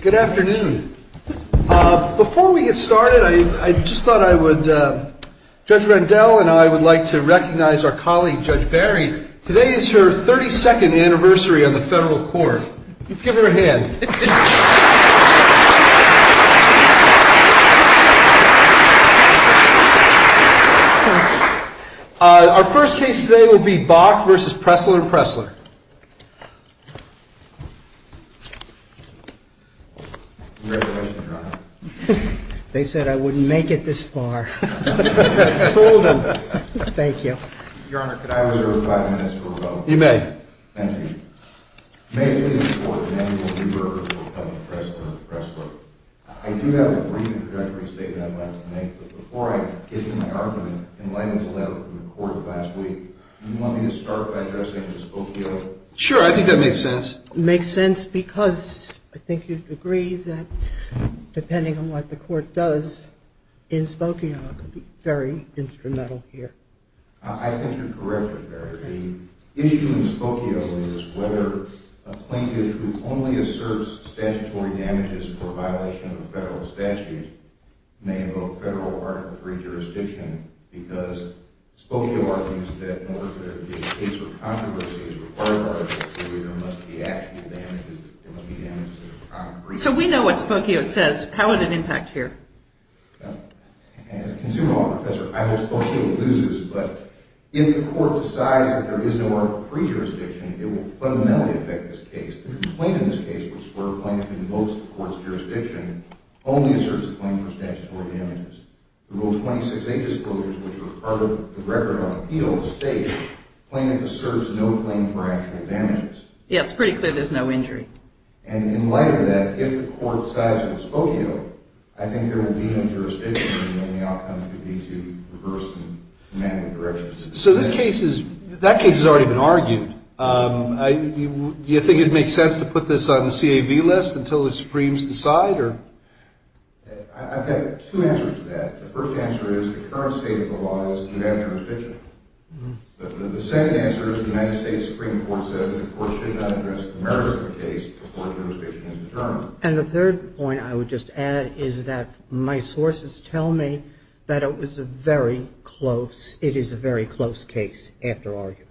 Good afternoon. Before we get started, I just thought I would, Judge Rendell and I would like to recognize our colleague, Judge Barry. Today is her 32nd anniversary on the federal court. Let's give her a hand. Our first case today will be Bok v. Pressler&Pressler. Congratulations, Your Honor. They said I wouldn't make it this far. Told them. Thank you. Your Honor, could I reserve five minutes for rebuttal? You may. Thank you. May it please the Court, Emanuel B. Berger of Bok v. Pressler&Pressler. I do have a brief introductory statement I'd like to make, but before I give you my argument, in light of the letter from the Court last week, do you want me to start by addressing this Bok v. Pressler? Sure, I think that makes sense. It makes sense because I think you'd agree that, depending on what the Court does in Spokio, it could be very instrumental here. I think you're correct, Judge Barry. The issue in Spokio is whether a plaintiff who only asserts statutory damages for violation of federal statutes may invoke federal Article III jurisdiction because Spokio argues that in order for there to be a case for controversy, there must be actual damages. So we know what Spokio says. How would it impact here? As a consumer law professor, I hope Spokio loses, but if the Court decides that there is no Article III jurisdiction, it will fundamentally affect this case. The complaint in this case, which is where a plaintiff invokes the Court's jurisdiction, only asserts a claim for statutory damages. The Rule 26a disclosures, which are part of the Record of Appeal, the State, plaintiff asserts no claim for actual damages. Yeah, it's pretty clear there's no injury. And in light of that, if the Court decides in Spokio, I think there will be no jurisdiction, and the only outcome could be to reverse the commandment of jurisdiction. So that case has already been argued. Do you think it would make sense to put this on the CAV list until the Supremes decide? I've got two answers to that. The first answer is the current state of the law is that you have jurisdiction. The second answer is the United States Supreme Court says that the Court should not address the merits of the case before jurisdiction is determined. And the third point I would just add is that my sources tell me that it is a very close case after argument.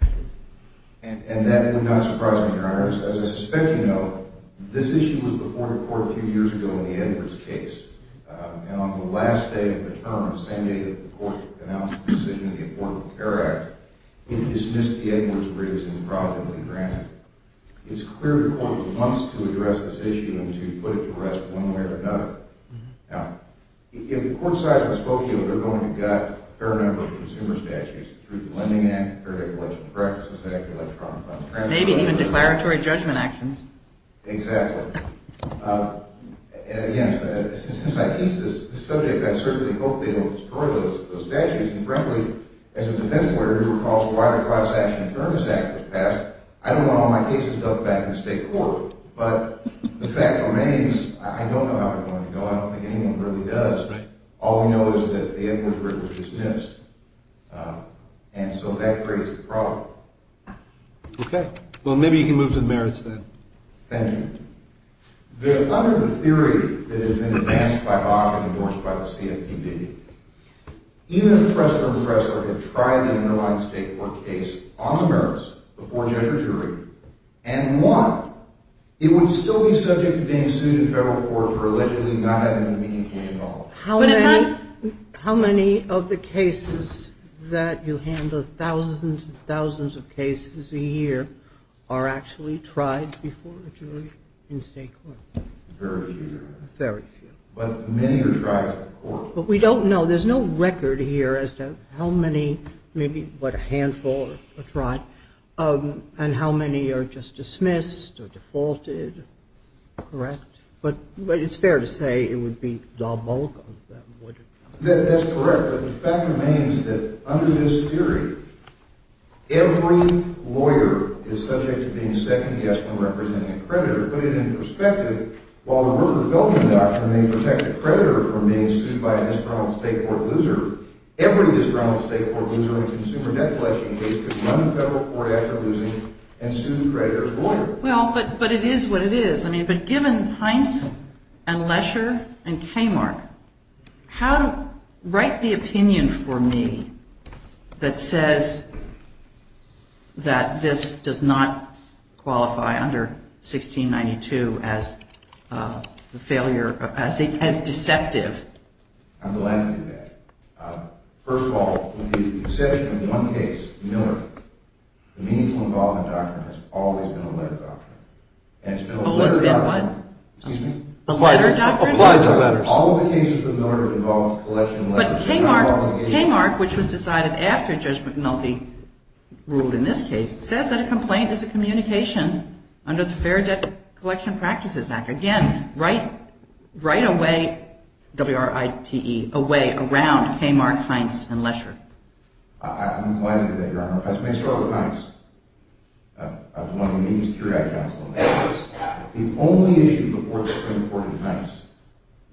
And that would not surprise me, Your Honors. As I suspect you know, this issue was before the Court a few years ago in the Edwards case. And on the last day of the term, the same day that the Court announced the decision of the Affordable Care Act, it dismissed the Edwards briefs and was probably granted. It's clear the Court wants to address this issue and to put it to rest one way or another. Now, if the Court decides in Spokio, they're going to get a fair number of consumer statutes through the Lending Act, the Fair Declaration of Practices Act, the Electronic Funds Transaction Act. Maybe even declaratory judgment actions. Exactly. And again, since I teach this subject, I certainly hope they don't destroy those statutes. And frankly, as a defense lawyer who recalls why the Cross-Section Adjournment Act was passed, I don't want all my cases dumped back in the state court. But the fact remains, I don't know how it's going to go. I don't think anyone really does. All we know is that the Edwards brief was dismissed. And so that creates the problem. Okay. Well, maybe you can move to the merits then. Thank you. Under the theory that has been advanced by BAC and endorsed by the CFPB, even if Pressler and Pressler had tried the underlying state court case on the merits before judge or jury and won, it would still be subject to being sued in federal court for allegedly not having the meaning to be involved. How many of the cases that you handle, thousands and thousands of cases a year, are actually tried before a jury in state court? Very few. Very few. But many are tried in court. But we don't know. There's no record here as to how many, maybe what a handful are tried, and how many are just dismissed or defaulted. Correct. But it's fair to say it would be the bulk of them, wouldn't it? That's correct. But the fact remains that under this theory, every lawyer is subject to being second-guessed when representing a creditor. Put it in perspective, while the murder of Felton Doctrine may protect a creditor from being sued by a disgruntled state court loser, every disgruntled state court loser in a consumer debt collection case could run the federal court after losing and sue the creditor's lawyer. Well, but it is what it is. I mean, but given Heinz and Lesher and Kmart, write the opinion for me that says that this does not qualify under 1692 as deceptive. I'm glad to do that. First of all, with the exception of one case, Millard, the Meaningful Involvement Doctrine has always been a letter doctrine. Always been what? Excuse me? Applied to letters. Applied to letters. All of the cases with Millard involved collection of letters. But Kmart, which was decided after Judge McNulty ruled in this case, says that a complaint is a communication under the Fair Debt Collection Practices Act. Again, write a way, W-R-I-T-E, a way around Kmart, Heinz, and Lesher. I'm glad to do that, Your Honor. Let me start with Heinz. I was one of the leading security counsel in the case. The only issue before the Supreme Court in Heinz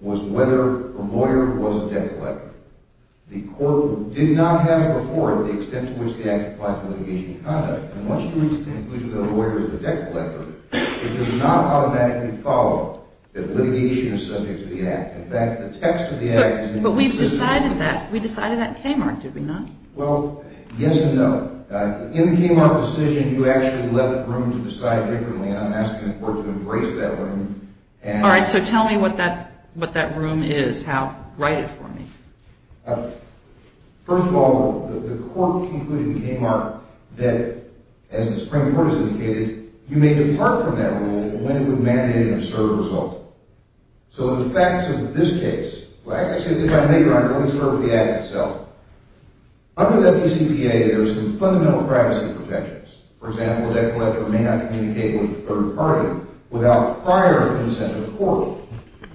was whether a lawyer was a debt collector. The court did not have before the extent to which the act applied to litigation conduct. And once you reach the conclusion that a lawyer is a debt collector, it does not automatically follow that litigation is subject to the act. In fact, the text of the act is in the decision. But we've decided that. We decided that in Kmart, did we not? Well, yes and no. In the Kmart decision, you actually left room to decide differently, and I'm asking the court to embrace that room. All right, so tell me what that room is, Hal. Write it for me. First of all, the court concluded in Kmart that, as the Supreme Court has indicated, you may depart from that room when it would mandate an absurd result. So the facts of this case, like I said, if I may, Your Honor, let me start with the act itself. Under the FDCPA, there are some fundamental privacy protections. For example, a debt collector may not communicate with a third party without prior consent of the court.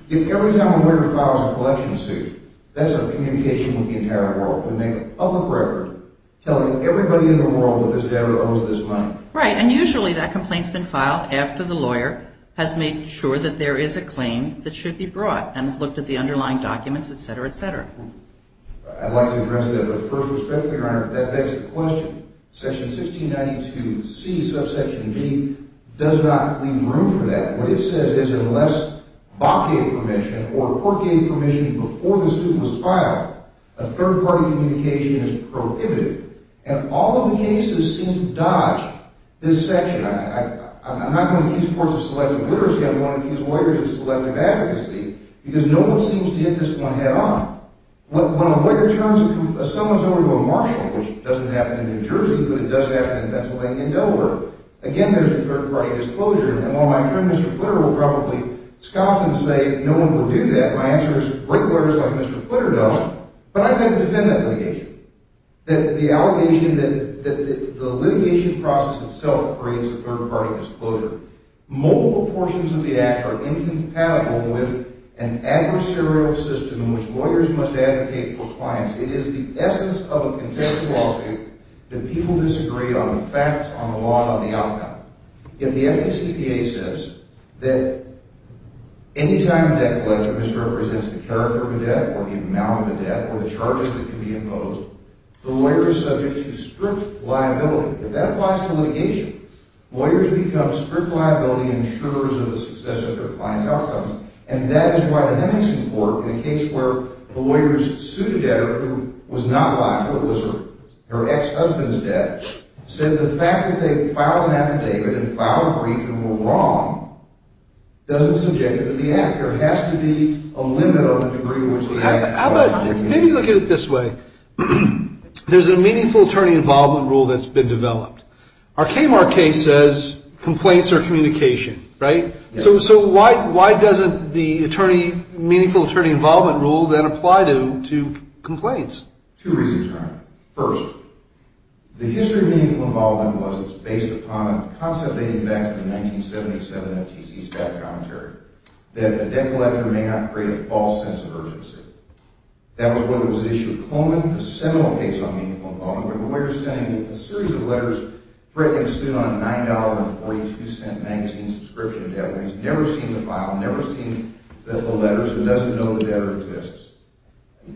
If every time a lawyer files a collection suit, that's a communication with the entire world to make a public record telling everybody in the world that this debtor owes this money. Right, and usually that complaint's been filed after the lawyer has made sure that there is a claim that should be brought and has looked at the underlying documents, etc., etc. I'd like to address that, but first respectfully, Your Honor, that begs the question. Section 1692C, subsection B, does not leave room for that. What it says is, unless Bok gave permission or the court gave permission before the suit was filed, a third-party communication is prohibited. And all of the cases seem to dodge this section. I'm not going to accuse courts of selective literacy. I'm going to accuse lawyers of selective advocacy because no one seems to hit this point head-on. When a lawyer turns someone's over to a marshal, which doesn't happen in New Jersey, but it does happen in Pennsylvania and Delaware, again, there's a third-party disclosure. And while my friend Mr. Flitter will probably scoff and say, no one will do that, my answer is, great lawyers like Mr. Flitter don't. But I'd like to defend that litigation, that the litigation process itself creates a third-party disclosure. Multiple portions of the Act are incompatible with an adversarial system in which lawyers must advocate for clients. It is the essence of a contemptual lawsuit that people disagree on the facts, on the law, and on the outcome. Yet the FACPA says that any time a debt collector misrepresents the character of a debt or the amount of a debt or the charges that can be imposed, the lawyer is subject to strict liability. If that applies to litigation, lawyers become strict liability insurers of the success of their client's outcomes. And that is why the Henningsen Court, in a case where the lawyer's pseudodebtor, who was not liable, it was her ex-husband's debt, said the fact that they filed an affidavit and filed a brief and were wrong doesn't subject them to the Act. There has to be a limit on the degree to which the Act applies. Maybe look at it this way. There's a Meaningful Attorney Involvement Rule that's been developed. Our Kmart case says complaints are communication, right? So why doesn't the Meaningful Attorney Involvement Rule then apply to complaints? Two reasons. First, the history of Meaningful Involvement was it's based upon a concept dating back to the 1977 FTC Staff Commentary, that a debt collector may not create a false sense of urgency. That was what was at issue. Coleman, a seminal case on Meaningful Involvement, where the lawyer is saying that a series of letters threatening a suit on a $9.42 magazine subscription debt where he's never seen the file, never seen the letters, and doesn't know the debtor exists,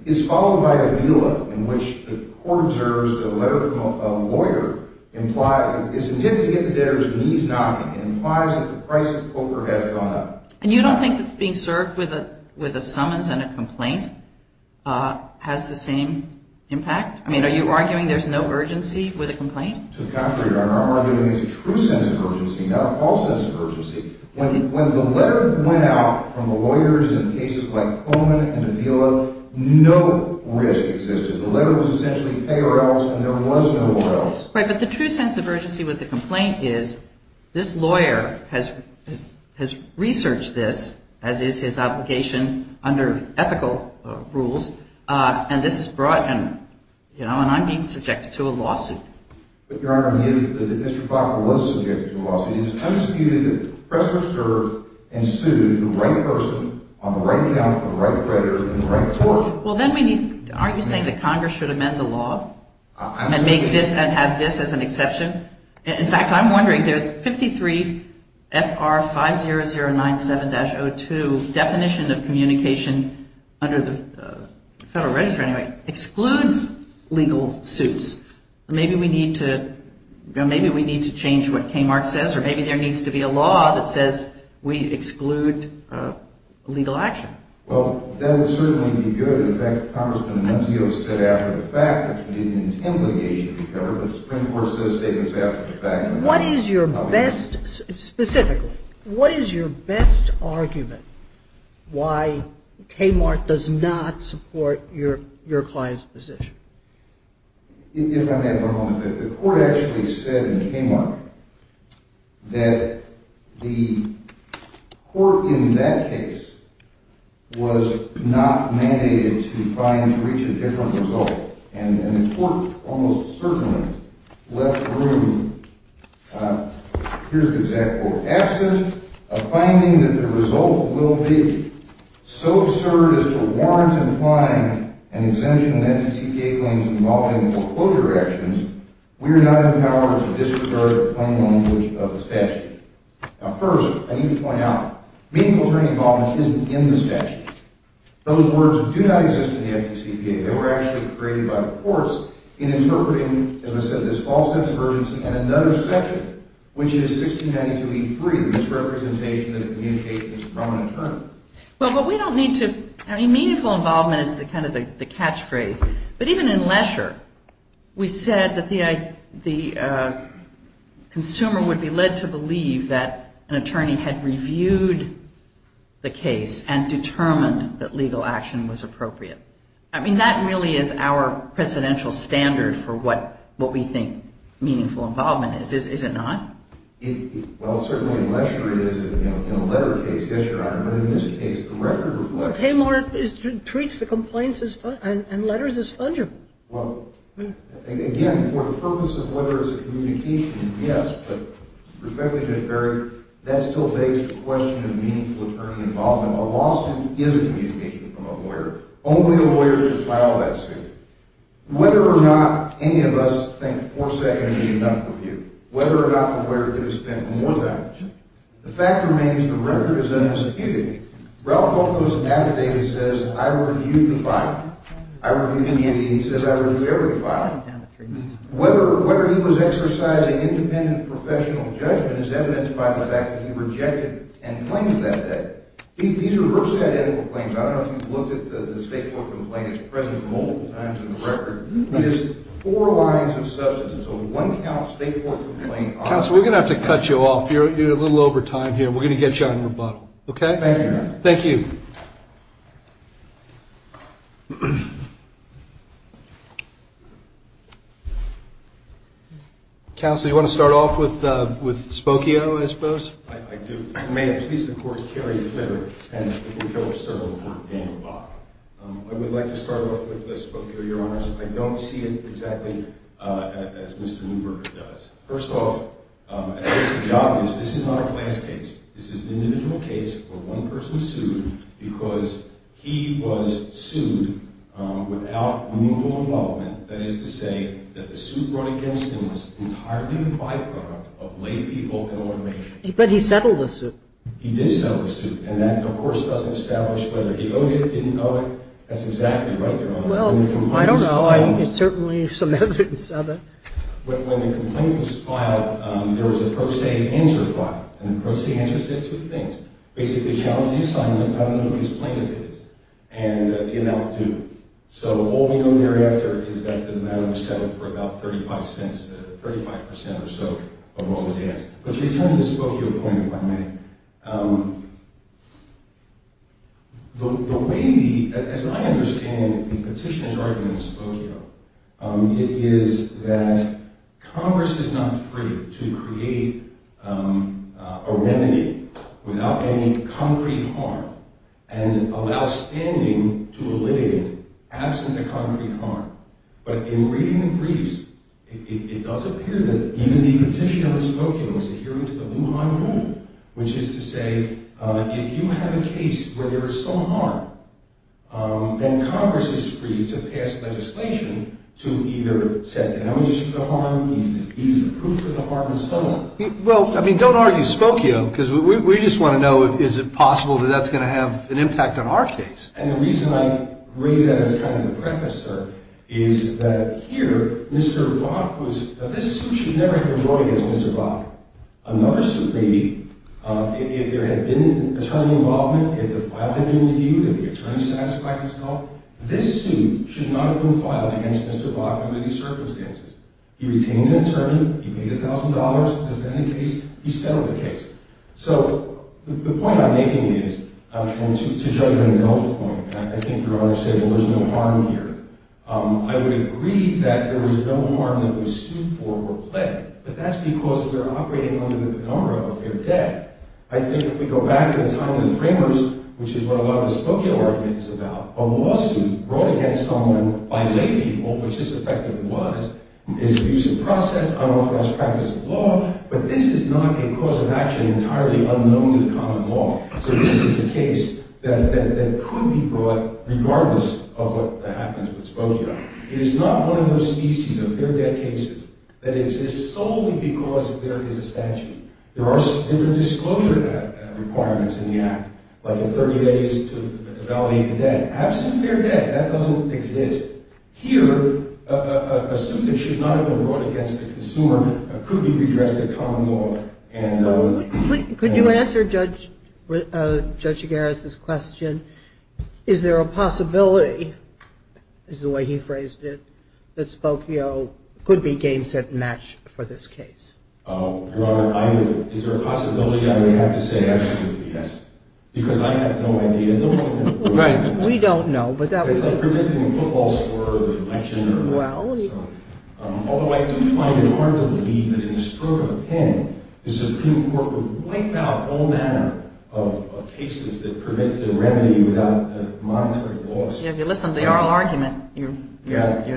is followed by a vela in which the court observes that a letter from a lawyer is intended to get the debtor's knees knocking and implies that the price of coca has gone up. And you don't think that being served with a summons and a complaint has the same impact? I mean, are you arguing there's no urgency with a complaint? To the contrary, Your Honor. I'm arguing there's a true sense of urgency, not a false sense of urgency. When the letter went out from the lawyers in cases like Coleman and the vela, no risk existed. The letter was essentially pay or else, and there was no or else. Right, but the true sense of urgency with the complaint is this lawyer has researched this, as is his obligation under ethical rules, and this has brought him, you know, and I'm being subjected to a lawsuit. But, Your Honor, if Mr. Blackwell was subjected to a lawsuit, it is undisputed that the oppressor served and sued the right person on the right account for the right debtor in the right court. Well, then we need, aren't you saying that Congress should amend the law and make this, and have this as an exception? In fact, I'm wondering, there's 53 FR 50097-02, definition of communication under the Federal Register anyway, excludes legal suits. Maybe we need to, you know, maybe we need to change what Kmart says, or maybe there needs to be a law that says we exclude legal action. Well, that would certainly be good. In fact, Congressman Nunzio said after the fact that he didn't intend litigation to be covered, but the Supreme Court said statements after the fact. What is your best, specifically, what is your best argument why Kmart does not support your client's position? If I may have one moment, the court actually said in Kmart that the court in that case was not mandated to try and reach a different result. And the court almost certainly left room, here's the exact quote, absent a finding that the result will be so absurd as to warrant implying an exemption in FDCPA claims involving foreclosure actions, we are not empowered to disregard the plain language of the statute. Now first, I need to point out, meaningful attorney involvement isn't in the statute. Those words do not exist in the FDCPA. They were actually created by the courts in interpreting, as I said, this false sense of urgency and another section, which is 1692E3, this representation that communicates this prominent term. Well, but we don't need to, I mean, meaningful involvement is kind of the catchphrase. But even in Lesher, we said that the consumer would be led to believe that an attorney had reviewed the case and determined that legal action was appropriate. I mean, that really is our precedential standard for what we think meaningful involvement is, is it not? Well, certainly in Lesher it is, in a letter case, yes, Your Honor, but in this case, the record reflects. But Haymar treats the complaints and letters as fungible. Well, again, for the purpose of whether it's a communication, yes, but respectfully, Judge Berry, that still begs the question of meaningful attorney involvement. A lawsuit is a communication from a lawyer. Only a lawyer could file that suit. Whether or not any of us think four seconds is enough to review, whether or not the lawyer could have spent more time, the fact remains the record is unobtrusive. Ralph Bocos affidavit says, I reviewed the filing. I reviewed any and he says I reviewed every filing. Whether he was exercising independent professional judgment is evidenced by the fact that he rejected and claimed that debt. These are reverse identical claims. I don't know if you've looked at the state court complaint. It's present multiple times in the record. It is four lines of substance. It's a one-count state court complaint. Counsel, we're going to have to cut you off. You're a little over time here. We're going to get you on rebuttal, okay? Thank you. Thank you. Counsel, you want to start off with Spokio, I suppose? I do. May it please the court, Kerry Flipper, and the defense attorney for Daniel Bok. I would like to start off with Spokio, Your Honors. I don't see it exactly as Mr. Neuberger does. First off, this is not a class case. This is an individual case where one person was sued because he was sued without meaningful involvement. That is to say that the suit brought against him was entirely a byproduct of lay people and automation. But he settled the suit. He did settle the suit. And that, of course, doesn't establish whether he owed it, didn't owe it. That's exactly right, Your Honor. Well, I don't know. It's certainly some evidence of it. When the complaint was filed, there was a pro se answer filed. And the pro se answer said two things. Basically, challenge the assignment. I don't know who his plaintiff is. And the amount due. So all we know thereafter is that the matter was settled for about 35 cents, 35 percent or so of what was asked. But to return to the Spokio point, if I may, the way the – as I understand the petitioner's argument in Spokio, it is that Congress is not free to create a remedy without any concrete harm and allow standing to a litigant absent a concrete harm. But in reading the briefs, it does appear that even the petitioner in Spokio was adhering to the Wuhan rule, which is to say if you have a case where there is some harm, then Congress is free to pass legislation to either set the amnesty to the harm, ease the proof of the harm, and so on. Well, I mean, don't argue Spokio, because we just want to know is it possible that that's going to have an impact on our case. And the reason I raise that as kind of the preface, sir, is that here Mr. Bach was – this suit should never have been drawn against Mr. Bach. Another suit may be if there had been attorney involvement, if the file had been reviewed, if the attorney satisfied himself, this suit should not have been filed against Mr. Bach under these circumstances. He retained an attorney, he paid $1,000 to defend the case, he settled the case. So the point I'm making is – and to Judge Rendell's point, I think Your Honor said there was no harm here. I would agree that there was no harm that was sued for or pledged, but that's because we're operating under the penumbra of a fair debt. I think if we go back to the time of the Framers, which is what a lot of the Spokio argument is about, a lawsuit brought against someone by lay people, which this effectively was, is an abusive process, unlawful practice of law, but this is not a cause of action entirely unknown to the common law. So this is a case that could be brought regardless of what happens with Spokio. It is not one of those species of fair debt cases that exists solely because there is a statute. There are different disclosure requirements in the Act, like a 30 days to validate the debt. Absent fair debt, that doesn't exist. Here, a suit that should not have been brought against a consumer could be redressed at common law. Could you answer Judge Chigares' question? Is there a possibility, is the way he phrased it, that Spokio could be game, set, and match for this case? Your Honor, is there a possibility? I would have to say absolutely yes, because I have no idea. Right. We don't know. It's like preventing a football score or an election or something. Although I do find it hard to believe that in the stroke of a pen, the Supreme Court would wipe out all manner of cases that permit the remedy without a monetary loss. Yeah, if you listen to the oral argument, you're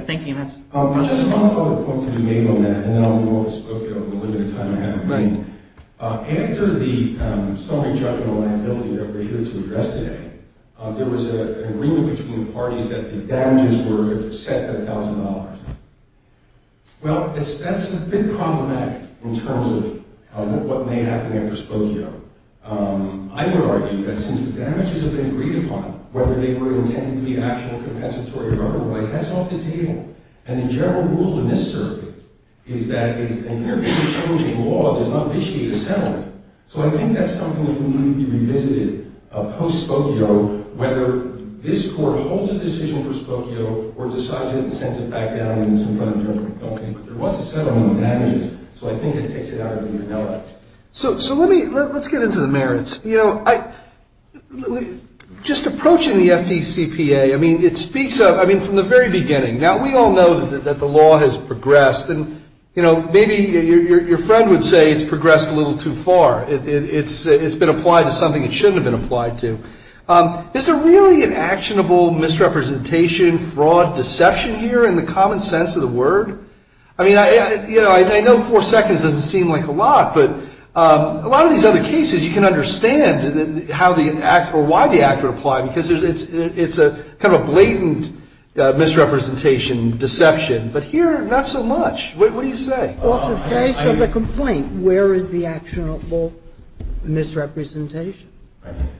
thinking that's… Just one other point to be made on that, and then I'll move on to Spokio in the limited time I have remaining. After the summary judgmental liability that we're here to address today, there was an agreement between the parties that the damages were set at $1,000. Well, that's a bit problematic in terms of what may happen under Spokio. I would argue that since the damages have been agreed upon, whether they were intended to be actual compensatory or otherwise, that's off the table. And the general rule in this circuit is that an area of challenging law does not initiate a settlement. So I think that's something that would need to be revisited post-Spokio, whether this Court holds a decision for Spokio or decides it and sends it back down when it's in front of judgment. But there was a settlement of damages, so I think it takes it out of the event. So let's get into the merits. Just approaching the FDCPA, I mean, it speaks of… I mean, from the very beginning, now we all know that the law has progressed. And, you know, maybe your friend would say it's progressed a little too far. It's been applied to something it shouldn't have been applied to. Is there really an actionable misrepresentation, fraud, deception here in the common sense of the word? I mean, you know, I know four seconds doesn't seem like a lot, but a lot of these other cases you can understand how the act or why the act would apply But here, not so much. What do you say? Well, to the face of the complaint, where is the actionable misrepresentation?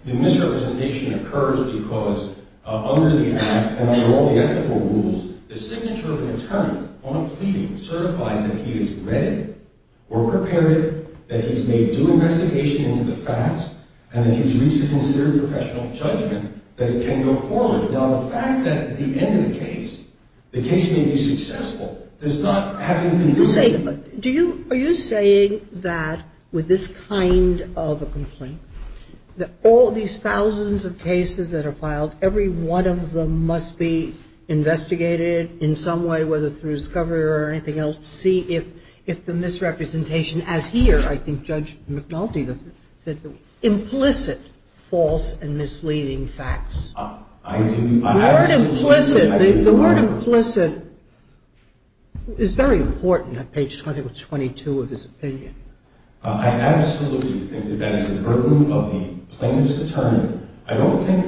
The misrepresentation occurs because under the act and under all the ethical rules, the signature of an attorney on a pleading certifies that he has read it or prepared it, that he's made due investigation into the facts, and that he's reached a considered professional judgment that it can go forward. Now, the fact that at the end of the case, the case may be successful does not have anything to do with it. Are you saying that with this kind of a complaint, that all these thousands of cases that are filed, every one of them must be investigated in some way, whether through discovery or anything else, to see if the misrepresentation, as here, I think Judge McNulty said, implicit false and misleading facts? The word implicit is very important at page 22 of his opinion. I absolutely think that that is the burden of the plaintiff's attorney. I don't think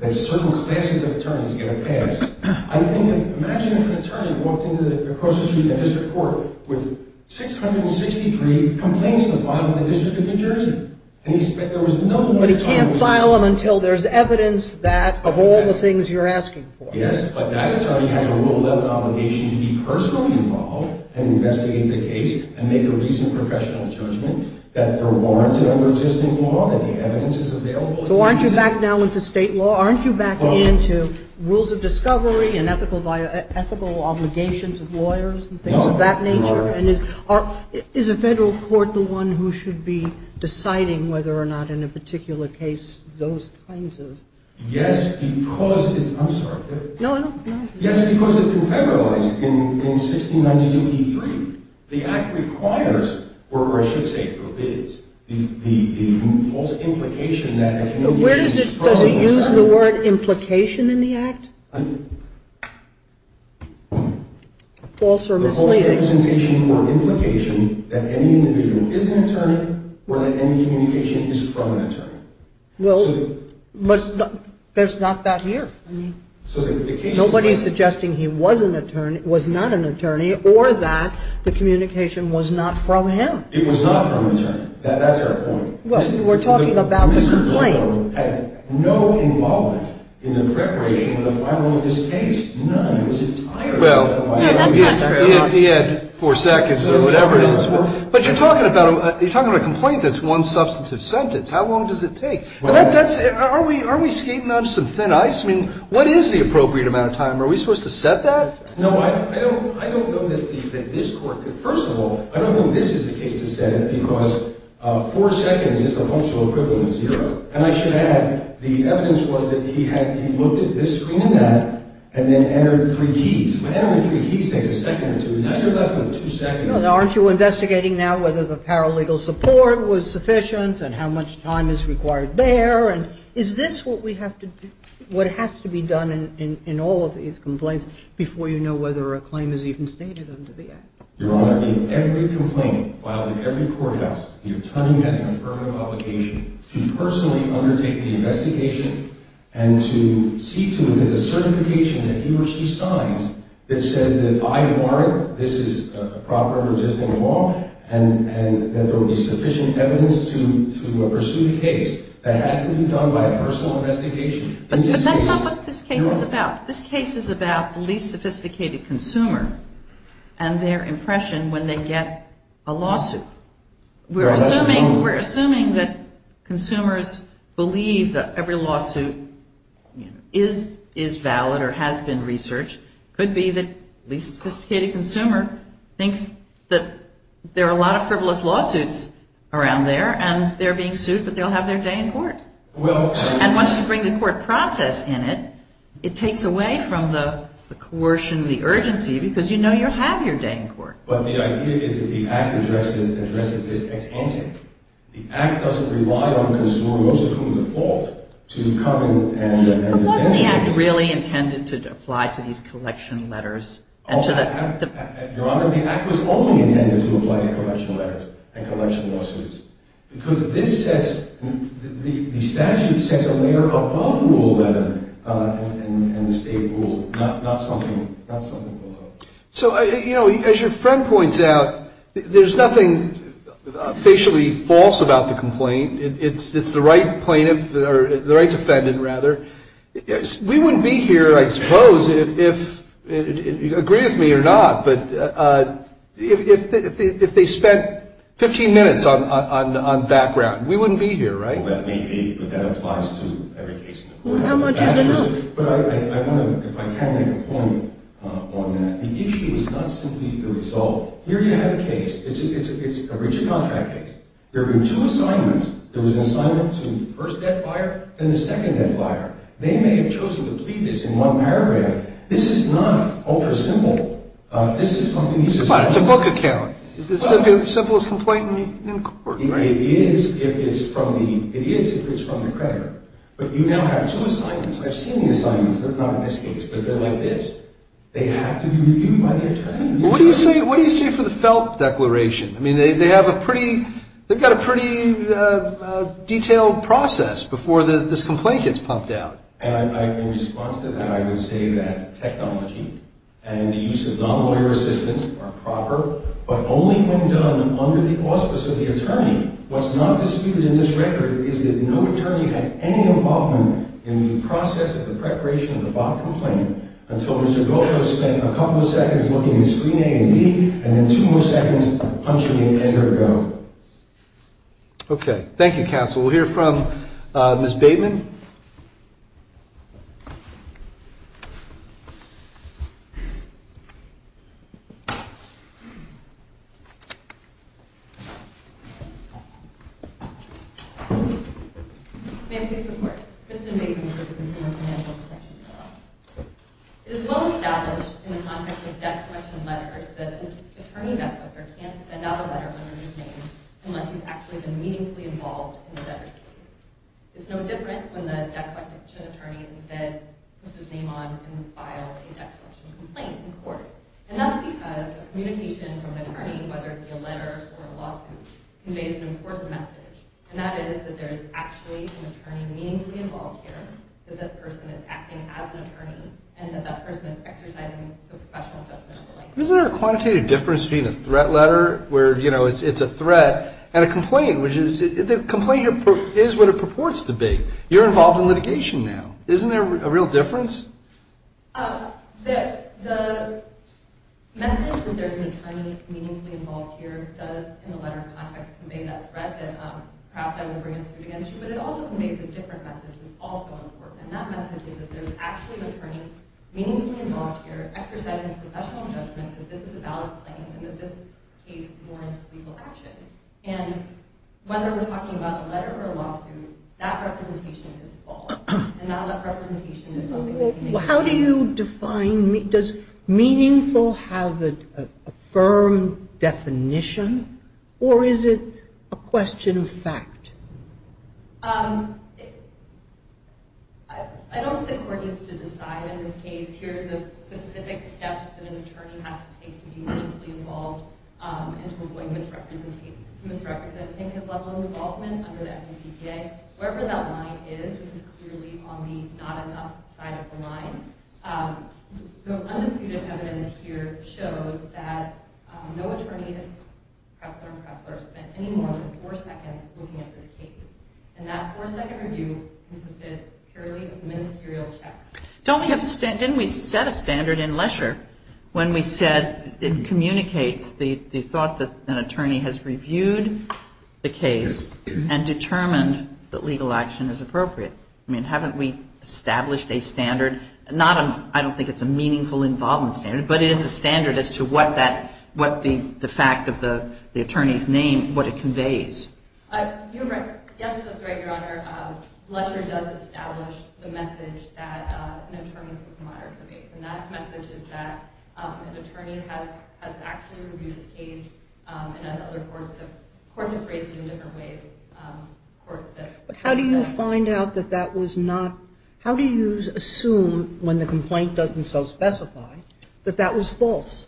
that certain classes of attorneys get a pass. I think that, imagine if an attorney walked across the street in a district court with 663 complaints to file in the District of New Jersey. But he can't file them until there's evidence that, of all the things you're asking for. Yes, but that attorney has a Rule 11 obligation to be personally involved and investigate the case and make a reasoned professional judgment that they're warranted under existing law, that the evidence is available. So aren't you back now into state law? Aren't you back into rules of discovery and ethical obligations of lawyers and things of that nature? No. Is a federal court the one who should be deciding whether or not, in a particular case, those kinds of? Yes, because it's been federalized in 1692E3. The Act requires, or I should say forbids, the false implication that a communication is fraud. Does it use the word implication in the Act? False or misleading? It's a false implication or implication that any individual is an attorney or that any communication is from an attorney. Well, but there's not that here. Nobody's suggesting he was an attorney, was not an attorney, or that the communication was not from him. It was not from an attorney. That's our point. Well, we're talking about the complaint. The misdemeanor had no involvement in the preparation of the final of this case. None. It was entirely. No, that's not true. He had four seconds or whatever it is. But you're talking about a complaint that's one substantive sentence. How long does it take? Are we skating on some thin ice? I mean, what is the appropriate amount of time? Are we supposed to set that? No, I don't know that this court could. First of all, I don't think this is the case to set it because four seconds is the functional equivalent of zero. And I should add, the evidence was that he looked at this screen and that and then entered three keys. But entering three keys takes a second or two. Now you're left with two seconds. Well, aren't you investigating now whether the paralegal support was sufficient and how much time is required there? And is this what we have to do, what has to be done in all of these complaints before you know whether a claim is even stated under the Act? Your Honor, in every complaint filed in every courthouse, the attorney has an affirmative obligation to personally undertake the investigation and to see to it that the certification that he or she signs that says that I warrant, this is a proper and existing law, and that there will be sufficient evidence to pursue the case, that has to be done by a personal investigation. But that's not what this case is about. This case is about the least sophisticated consumer and their impression when they get a lawsuit. We're assuming that consumers believe that every lawsuit is valid or has been researched. It could be that the least sophisticated consumer thinks that there are a lot of frivolous lawsuits around there and they're being sued but they'll have their day in court. And once you bring the court process in it, it takes away from the coercion, the urgency, because you know you'll have your day in court. But the idea is that the Act addresses this as ante. The Act doesn't rely on consumers, most of whom default, to come and defend the case. But wasn't the Act really intended to apply to these collection letters? Your Honor, the Act was only intended to apply to collection letters and collection lawsuits because the statute sets a layer above rule letter and the state rule, not something below. So, you know, as your friend points out, there's nothing facially false about the complaint. It's the right plaintiff or the right defendant, rather. We wouldn't be here, I suppose, if you agree with me or not, but if they spent 15 minutes on background, we wouldn't be here, right? Well, that may be, but that applies to every case in the court. How much is enough? But I want to, if I can, make a point on that. The issue is not simply the result. Here you have a case. It's a rigid contract case. There were two assignments. There was an assignment to the first debt buyer and the second debt buyer. They may have chosen to plead this in one paragraph. This is not ultra-simple. Come on, it's a book account. It's the simplest complaint in court. It is if it's from the creditor. But you now have two assignments. I've seen the assignments. They're not in this case, but they're like this. They have to be reviewed by the attorney. What do you say for the Felt Declaration? I mean, they have a pretty, they've got a pretty detailed process before this complaint gets pumped out. And in response to that, I would say that technology and the use of non-lawyer assistance are proper, but only when done under the auspice of the attorney. What's not disputed in this record is that no attorney had any involvement in the process of the preparation of the Bob complaint until Mr. Goldberg spent a couple of seconds looking at screen A and B and then two more seconds punching in endergo. Okay. Thank you, counsel. We'll hear from Ms. Bateman. Ma'am, please support. Kristen Bateman with the Consumer Financial Protection Bureau. It is well established in the context of death question letters that an attorney death note can't send out a letter under his name unless he's actually been meaningfully involved in the letter's case. It's no different when the death question attorney instead puts his name on and files a death question complaint in court. And that's because communication from an attorney, whether it be a letter or a lawsuit, conveys an important message, and that is that there is actually an attorney meaningfully involved here, that that person is acting as an attorney, and that that person is exercising the professional judgment of the license. Isn't there a quantitative difference between a threat letter where, you know, it's a threat and a complaint, which is the complaint is what it purports to be. You're involved in litigation now. Isn't there a real difference? The message that there's an attorney meaningfully involved here does, in the letter context, convey that threat that perhaps I would bring a suit against you, but it also conveys a different message that's also important, and that message is that there's actually an attorney meaningfully involved here exercising professional judgment that this is a valid claim and that this case warrants legal action. And whether we're talking about a letter or a lawsuit, that representation is false, and that representation is something that you need to know. Well, how do you define meaningful? Does meaningful have a firm definition, or is it a question of fact? I don't think the court needs to decide in this case here the specific steps that an attorney has to take to be meaningfully involved and to avoid misrepresenting his level of involvement under the FDCPA. Wherever that line is, this is clearly on the not-enough side of the line. The undisputed evidence here shows that no attorney in Pressler and Pressler spent any more than four seconds looking at this case, and that four-second review consisted purely of ministerial checks. Didn't we set a standard in Lesher when we said it communicates the thought that an attorney has reviewed the case and determined that legal action is appropriate? I mean, haven't we established a standard? I don't think it's a meaningful involvement standard, but it is a standard as to what the fact of the attorney's name, what it conveys. You're right. Yes, that's right, Your Honor. Lesher does establish the message that an attorney's book of honor conveys, and that message is that an attorney has actually reviewed his case, and has other courts have phrased it in different ways. But how do you find out that that was not? How do you assume, when the complaint doesn't self-specify, that that was false?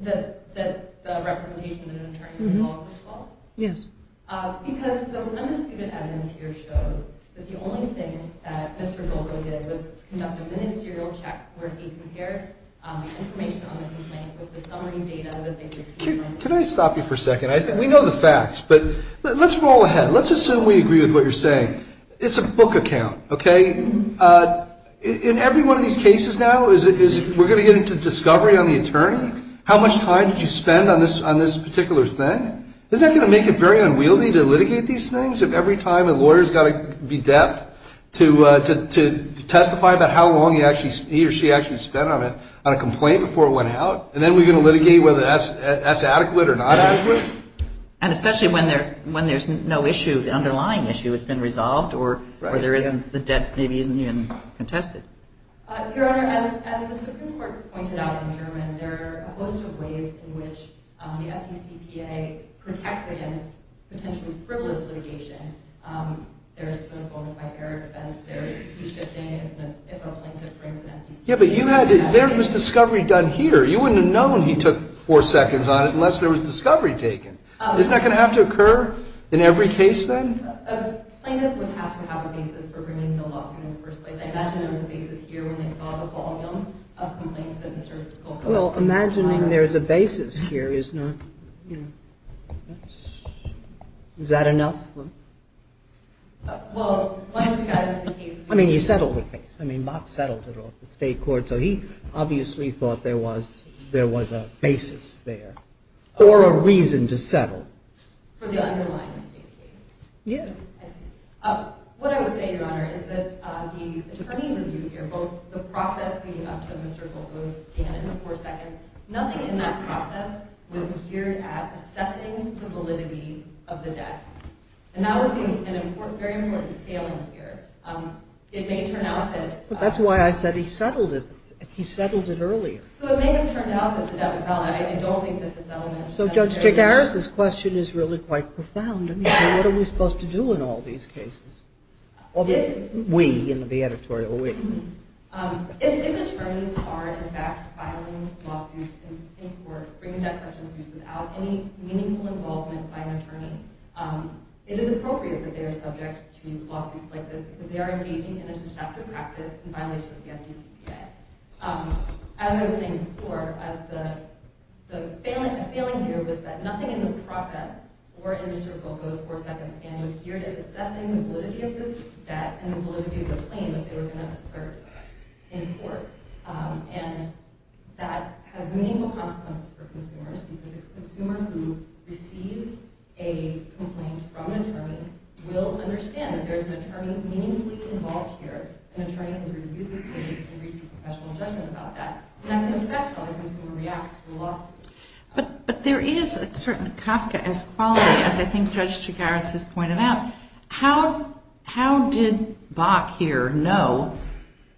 That the representation of an attorney involved was false? Yes. Because the undisputed evidence here shows that the only thing that Mr. Golko did was conduct a ministerial check where he compared information on the complaint with the summary data that they received. Can I stop you for a second? We know the facts, but let's roll ahead. Let's assume we agree with what you're saying. It's a book account, okay? In every one of these cases now, we're going to get into discovery on the attorney? How much time did you spend on this particular thing? Isn't that going to make it very unwieldy to litigate these things, if every time a lawyer's got to be deft to testify about how long he or she actually spent on a complaint before it went out? And then we're going to litigate whether that's adequate or not adequate? And especially when there's no issue, the underlying issue has been resolved, or the debt maybe isn't even contested. Your Honor, as the Supreme Court pointed out in German, there are a host of ways in which the FDCPA protects against potentially frivolous litigation. There's the bonafide error defense. There's the key shifting if a plaintiff brings an FDCPA. Yeah, but there was discovery done here. You wouldn't have known he took four seconds on it unless there was discovery taken. Isn't that going to have to occur in every case, then? A plaintiff would have to have a basis for bringing the lawsuit in the first place. I imagine there was a basis here when they saw the volume of complaints that Mr. Goldstein filed. Well, imagining there's a basis here is not, you know, that's – is that enough? Well, once we got into the case, we – I mean, you settled the case. I mean, Bob settled it off the state court, so he obviously thought there was a basis there or a reason to settle. For the underlying state case? Yes. I see. What I would say, Your Honor, is that the attorney review here, both the process leading up to Mr. Goldstein and the four seconds, nothing in that process was geared at assessing the validity of the debt. And that was an important – very important scaling here. It may turn out that – That's why I said he settled it earlier. So it may have turned out that the debt was valid. I don't think that the settlement – So Judge J. Garris' question is really quite profound. I mean, what are we supposed to do in all these cases? All the – we in the editorial, we. If attorneys are, in fact, filing lawsuits in court, without any meaningful involvement by an attorney, it is appropriate that they are subject to lawsuits like this because they are engaging in a deceptive practice in violation of the FDCPA. As I was saying before, the failing here was that nothing in the process or in Mr. Goldstein's four seconds was geared at assessing the validity of this debt and the validity of the claim that they were going to assert in court. And that has meaningful consequences for consumers because a consumer who receives a complaint from an attorney will understand that there's an attorney meaningfully involved here. An attorney can review this case and reach a professional judgment about that. And that comes back to how the consumer reacts to the lawsuit. But there is a certain Kafka-esque quality, as I think Judge J. Garris has pointed out. How did Bach here know,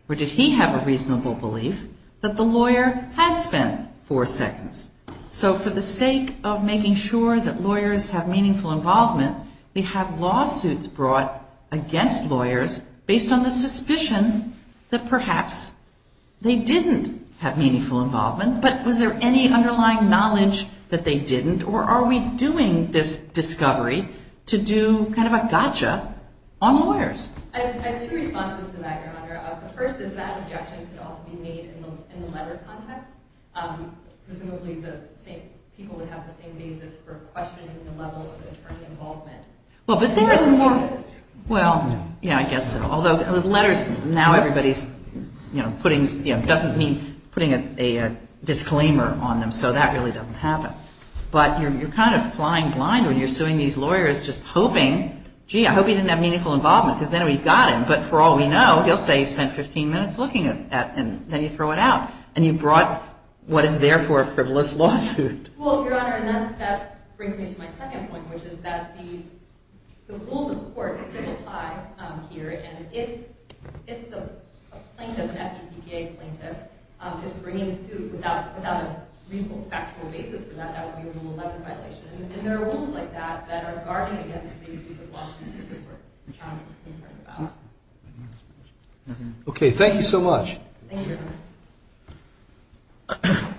or did he have a reasonable belief, that the lawyer had spent four seconds? So for the sake of making sure that lawyers have meaningful involvement, we have lawsuits brought against lawyers based on the suspicion that perhaps they didn't have meaningful involvement, but was there any underlying knowledge that they didn't, or are we doing this discovery to do kind of a gotcha on lawyers? I have two responses to that, Your Honor. The first is that objection could also be made in the letter context. Presumably people would have the same basis for questioning the level of attorney involvement. Well, but there is more. Well, yeah, I guess so. Although letters, now everybody's putting, doesn't mean putting a disclaimer on them, so that really doesn't happen. But you're kind of flying blind when you're suing these lawyers just hoping, gee, I hope he didn't have meaningful involvement, because then we've got him. But for all we know, he'll say he spent 15 minutes looking at, and then you throw it out. And you brought what is therefore a frivolous lawsuit. Well, Your Honor, and that brings me to my second point, which is that the rules of the court still apply here, and if the plaintiff, an FDCPA plaintiff, is bringing a suit without a reasonable factual basis for that, that would be a Rule 11 violation. And there are rules like that that are guarding against the abuse of law since the court trial is concerned about. Okay, thank you so much. Thank you, Your Honor.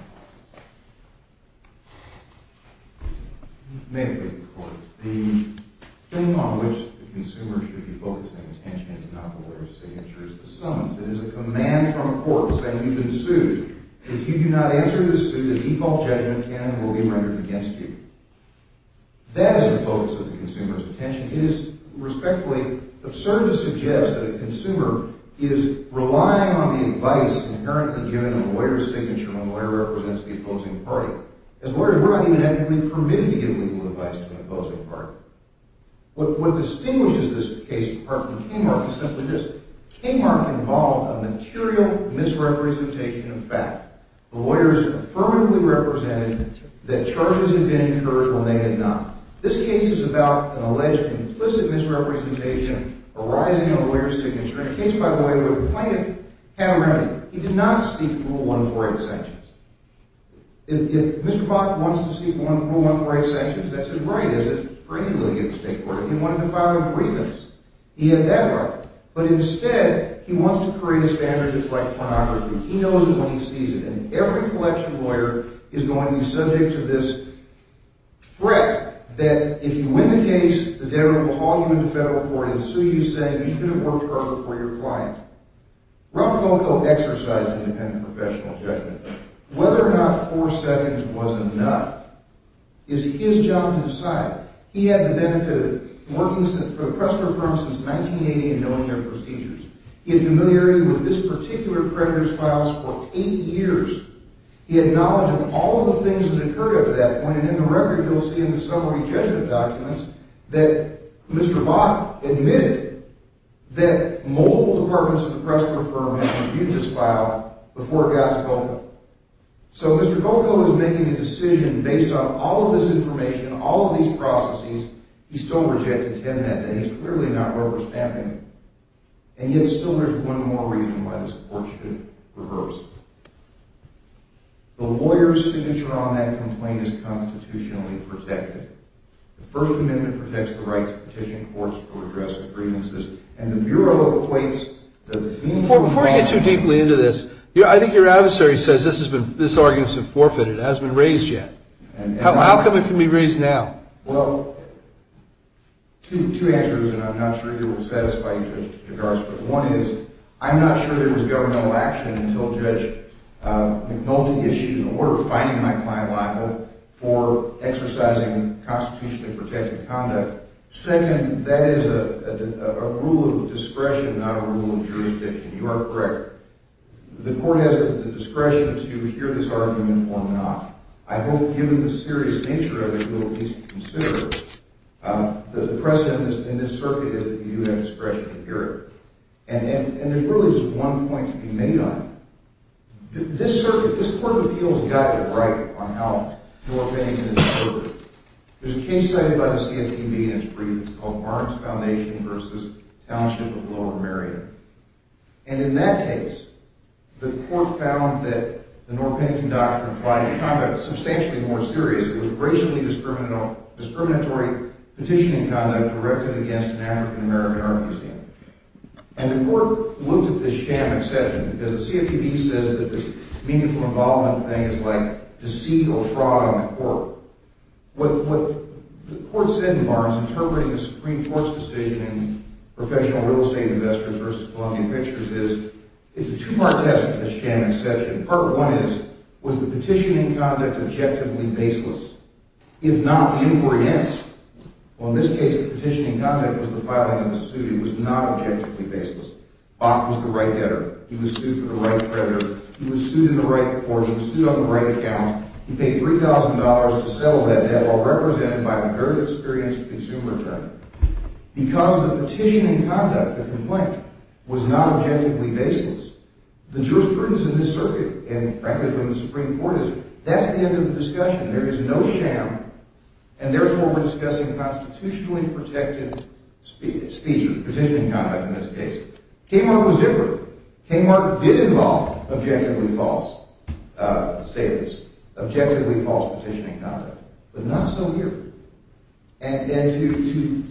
May it please the Court, the thing on which the consumer should be focusing attention and not the lawyer's signature is the summons. It is a command from a court saying you've been sued. If you do not answer the suit, a default judgment can and will be rendered against you. That is the focus of the consumer's attention. It is respectfully absurd to suggest that a consumer is relying on the advice inherently given in a lawyer's signature when a lawyer represents the opposing party. As lawyers, we're not even ethically permitted to give legal advice to an opposing party. What distinguishes this case apart from Kmart is simply this. Kmart involved a material misrepresentation of fact. The lawyers affirmatively represented that charges had been incurred when they had not. This case is about an alleged implicit misrepresentation arising in a lawyer's signature. In a case, by the way, where the plaintiff had a remedy. He did not seek Rule 148 sanctions. If Mr. Bach wants to seek Rule 148 sanctions, that's his right, is it, for any legal state court. If he wanted to file a grievance, he had that right. But instead, he wants to create a standard that's like pornography. He knows it when he sees it. And every collection lawyer is going to be subject to this threat that if you win the case, the debtor will haul you into federal court and sue you, saying you should have worked harder for your client. Ralph Loco exercised independent professional judgment. Whether or not four seconds was enough is his job to decide. He had the benefit of working for the Pressler firm since 1980 and knowing their procedures. He had familiarity with this particular creditor's files for eight years. He had knowledge of all of the things that occurred after that point. And in the record, you'll see in the summary judgment documents that Mr. Bach admitted that multiple departments of the Pressler firm had reviewed this file before it got to Loco. So Mr. Loco is making a decision based on all of this information, all of these processes. He still rejected ten of them, and he's clearly not rubber stamping them. And yet still there's one more reason why this court should reverse it. The lawyer's signature on that complaint is constitutionally protected. The First Amendment protects the right to petition courts to address the grievances, and the Bureau equates the meaningful involvement Before you get too deeply into this, I think your adversary says this argument has been forfeited. It hasn't been raised yet. How come it can be raised now? Well, two answers, and I'm not sure if it will satisfy your judge's regards, but one is I'm not sure there was governmental action until Judge McNulty issued an order fining my client Lico for exercising constitutionally protected conduct. Second, that is a rule of discretion, not a rule of jurisdiction. You are correct. The court has the discretion to hear this argument or not. I hope, given the serious nature of the rule of discretion to consider, that the precedent in this circuit is that you have discretion to hear it. And there's really just one point to be made on it. This court of appeals got it right on how Northampton is served. There's a case cited by the CFPB in its brief. It's called Barnes Foundation v. Township of Lower Merion. And in that case, the court found that the Northampton doctrine of client conduct was substantially more serious. It was racially discriminatory petitioning conduct directed against an African-American art museum. And the court looked at this sham exception, because the CFPB says that this meaningful involvement thing is like deceit or fraud on the court. What the court said in Barnes, interpreting the Supreme Court's decision in Professional Real Estate Investors v. Columbia Pictures, is it's a two-part test of the sham exception. Part one is, was the petitioning conduct objectively baseless? If not, the inquiry ends. Well, in this case, the petitioning conduct was the filing of a suit. It was not objectively baseless. Bach was the right debtor. He was sued for the right creditor. He was sued in the right court. He was sued on the right account. He paid $3,000 to settle that debt, while represented by a very experienced consumer attorney. Because the petitioning conduct, the complaint, was not objectively baseless, the jurisprudence in this circuit, and frankly, in the Supreme Court, is that's the end of the discussion. There is no sham, and therefore we're discussing constitutionally protected speech or petitioning conduct in this case. Kmart was different. Kmart did involve objectively false statements, objectively false petitioning conduct, but not so here. And to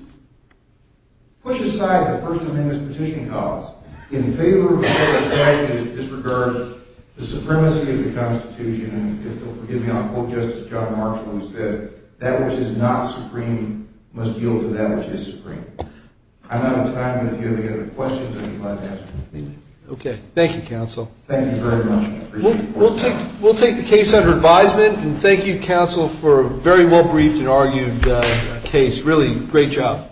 push aside the First Amendment's petitioning cause in favor of the fact that it disregards the supremacy of the Constitution, and if you'll forgive me, I'll quote Justice John Marshall, who said, that which is not supreme must yield to that which is supreme. I'm out of time, but if you have any other questions, I'd be glad to answer them. Okay. Thank you, counsel. Thank you very much. We'll take the case under advisement, and thank you, counsel, for a very well-briefed and argued case. Really, great job.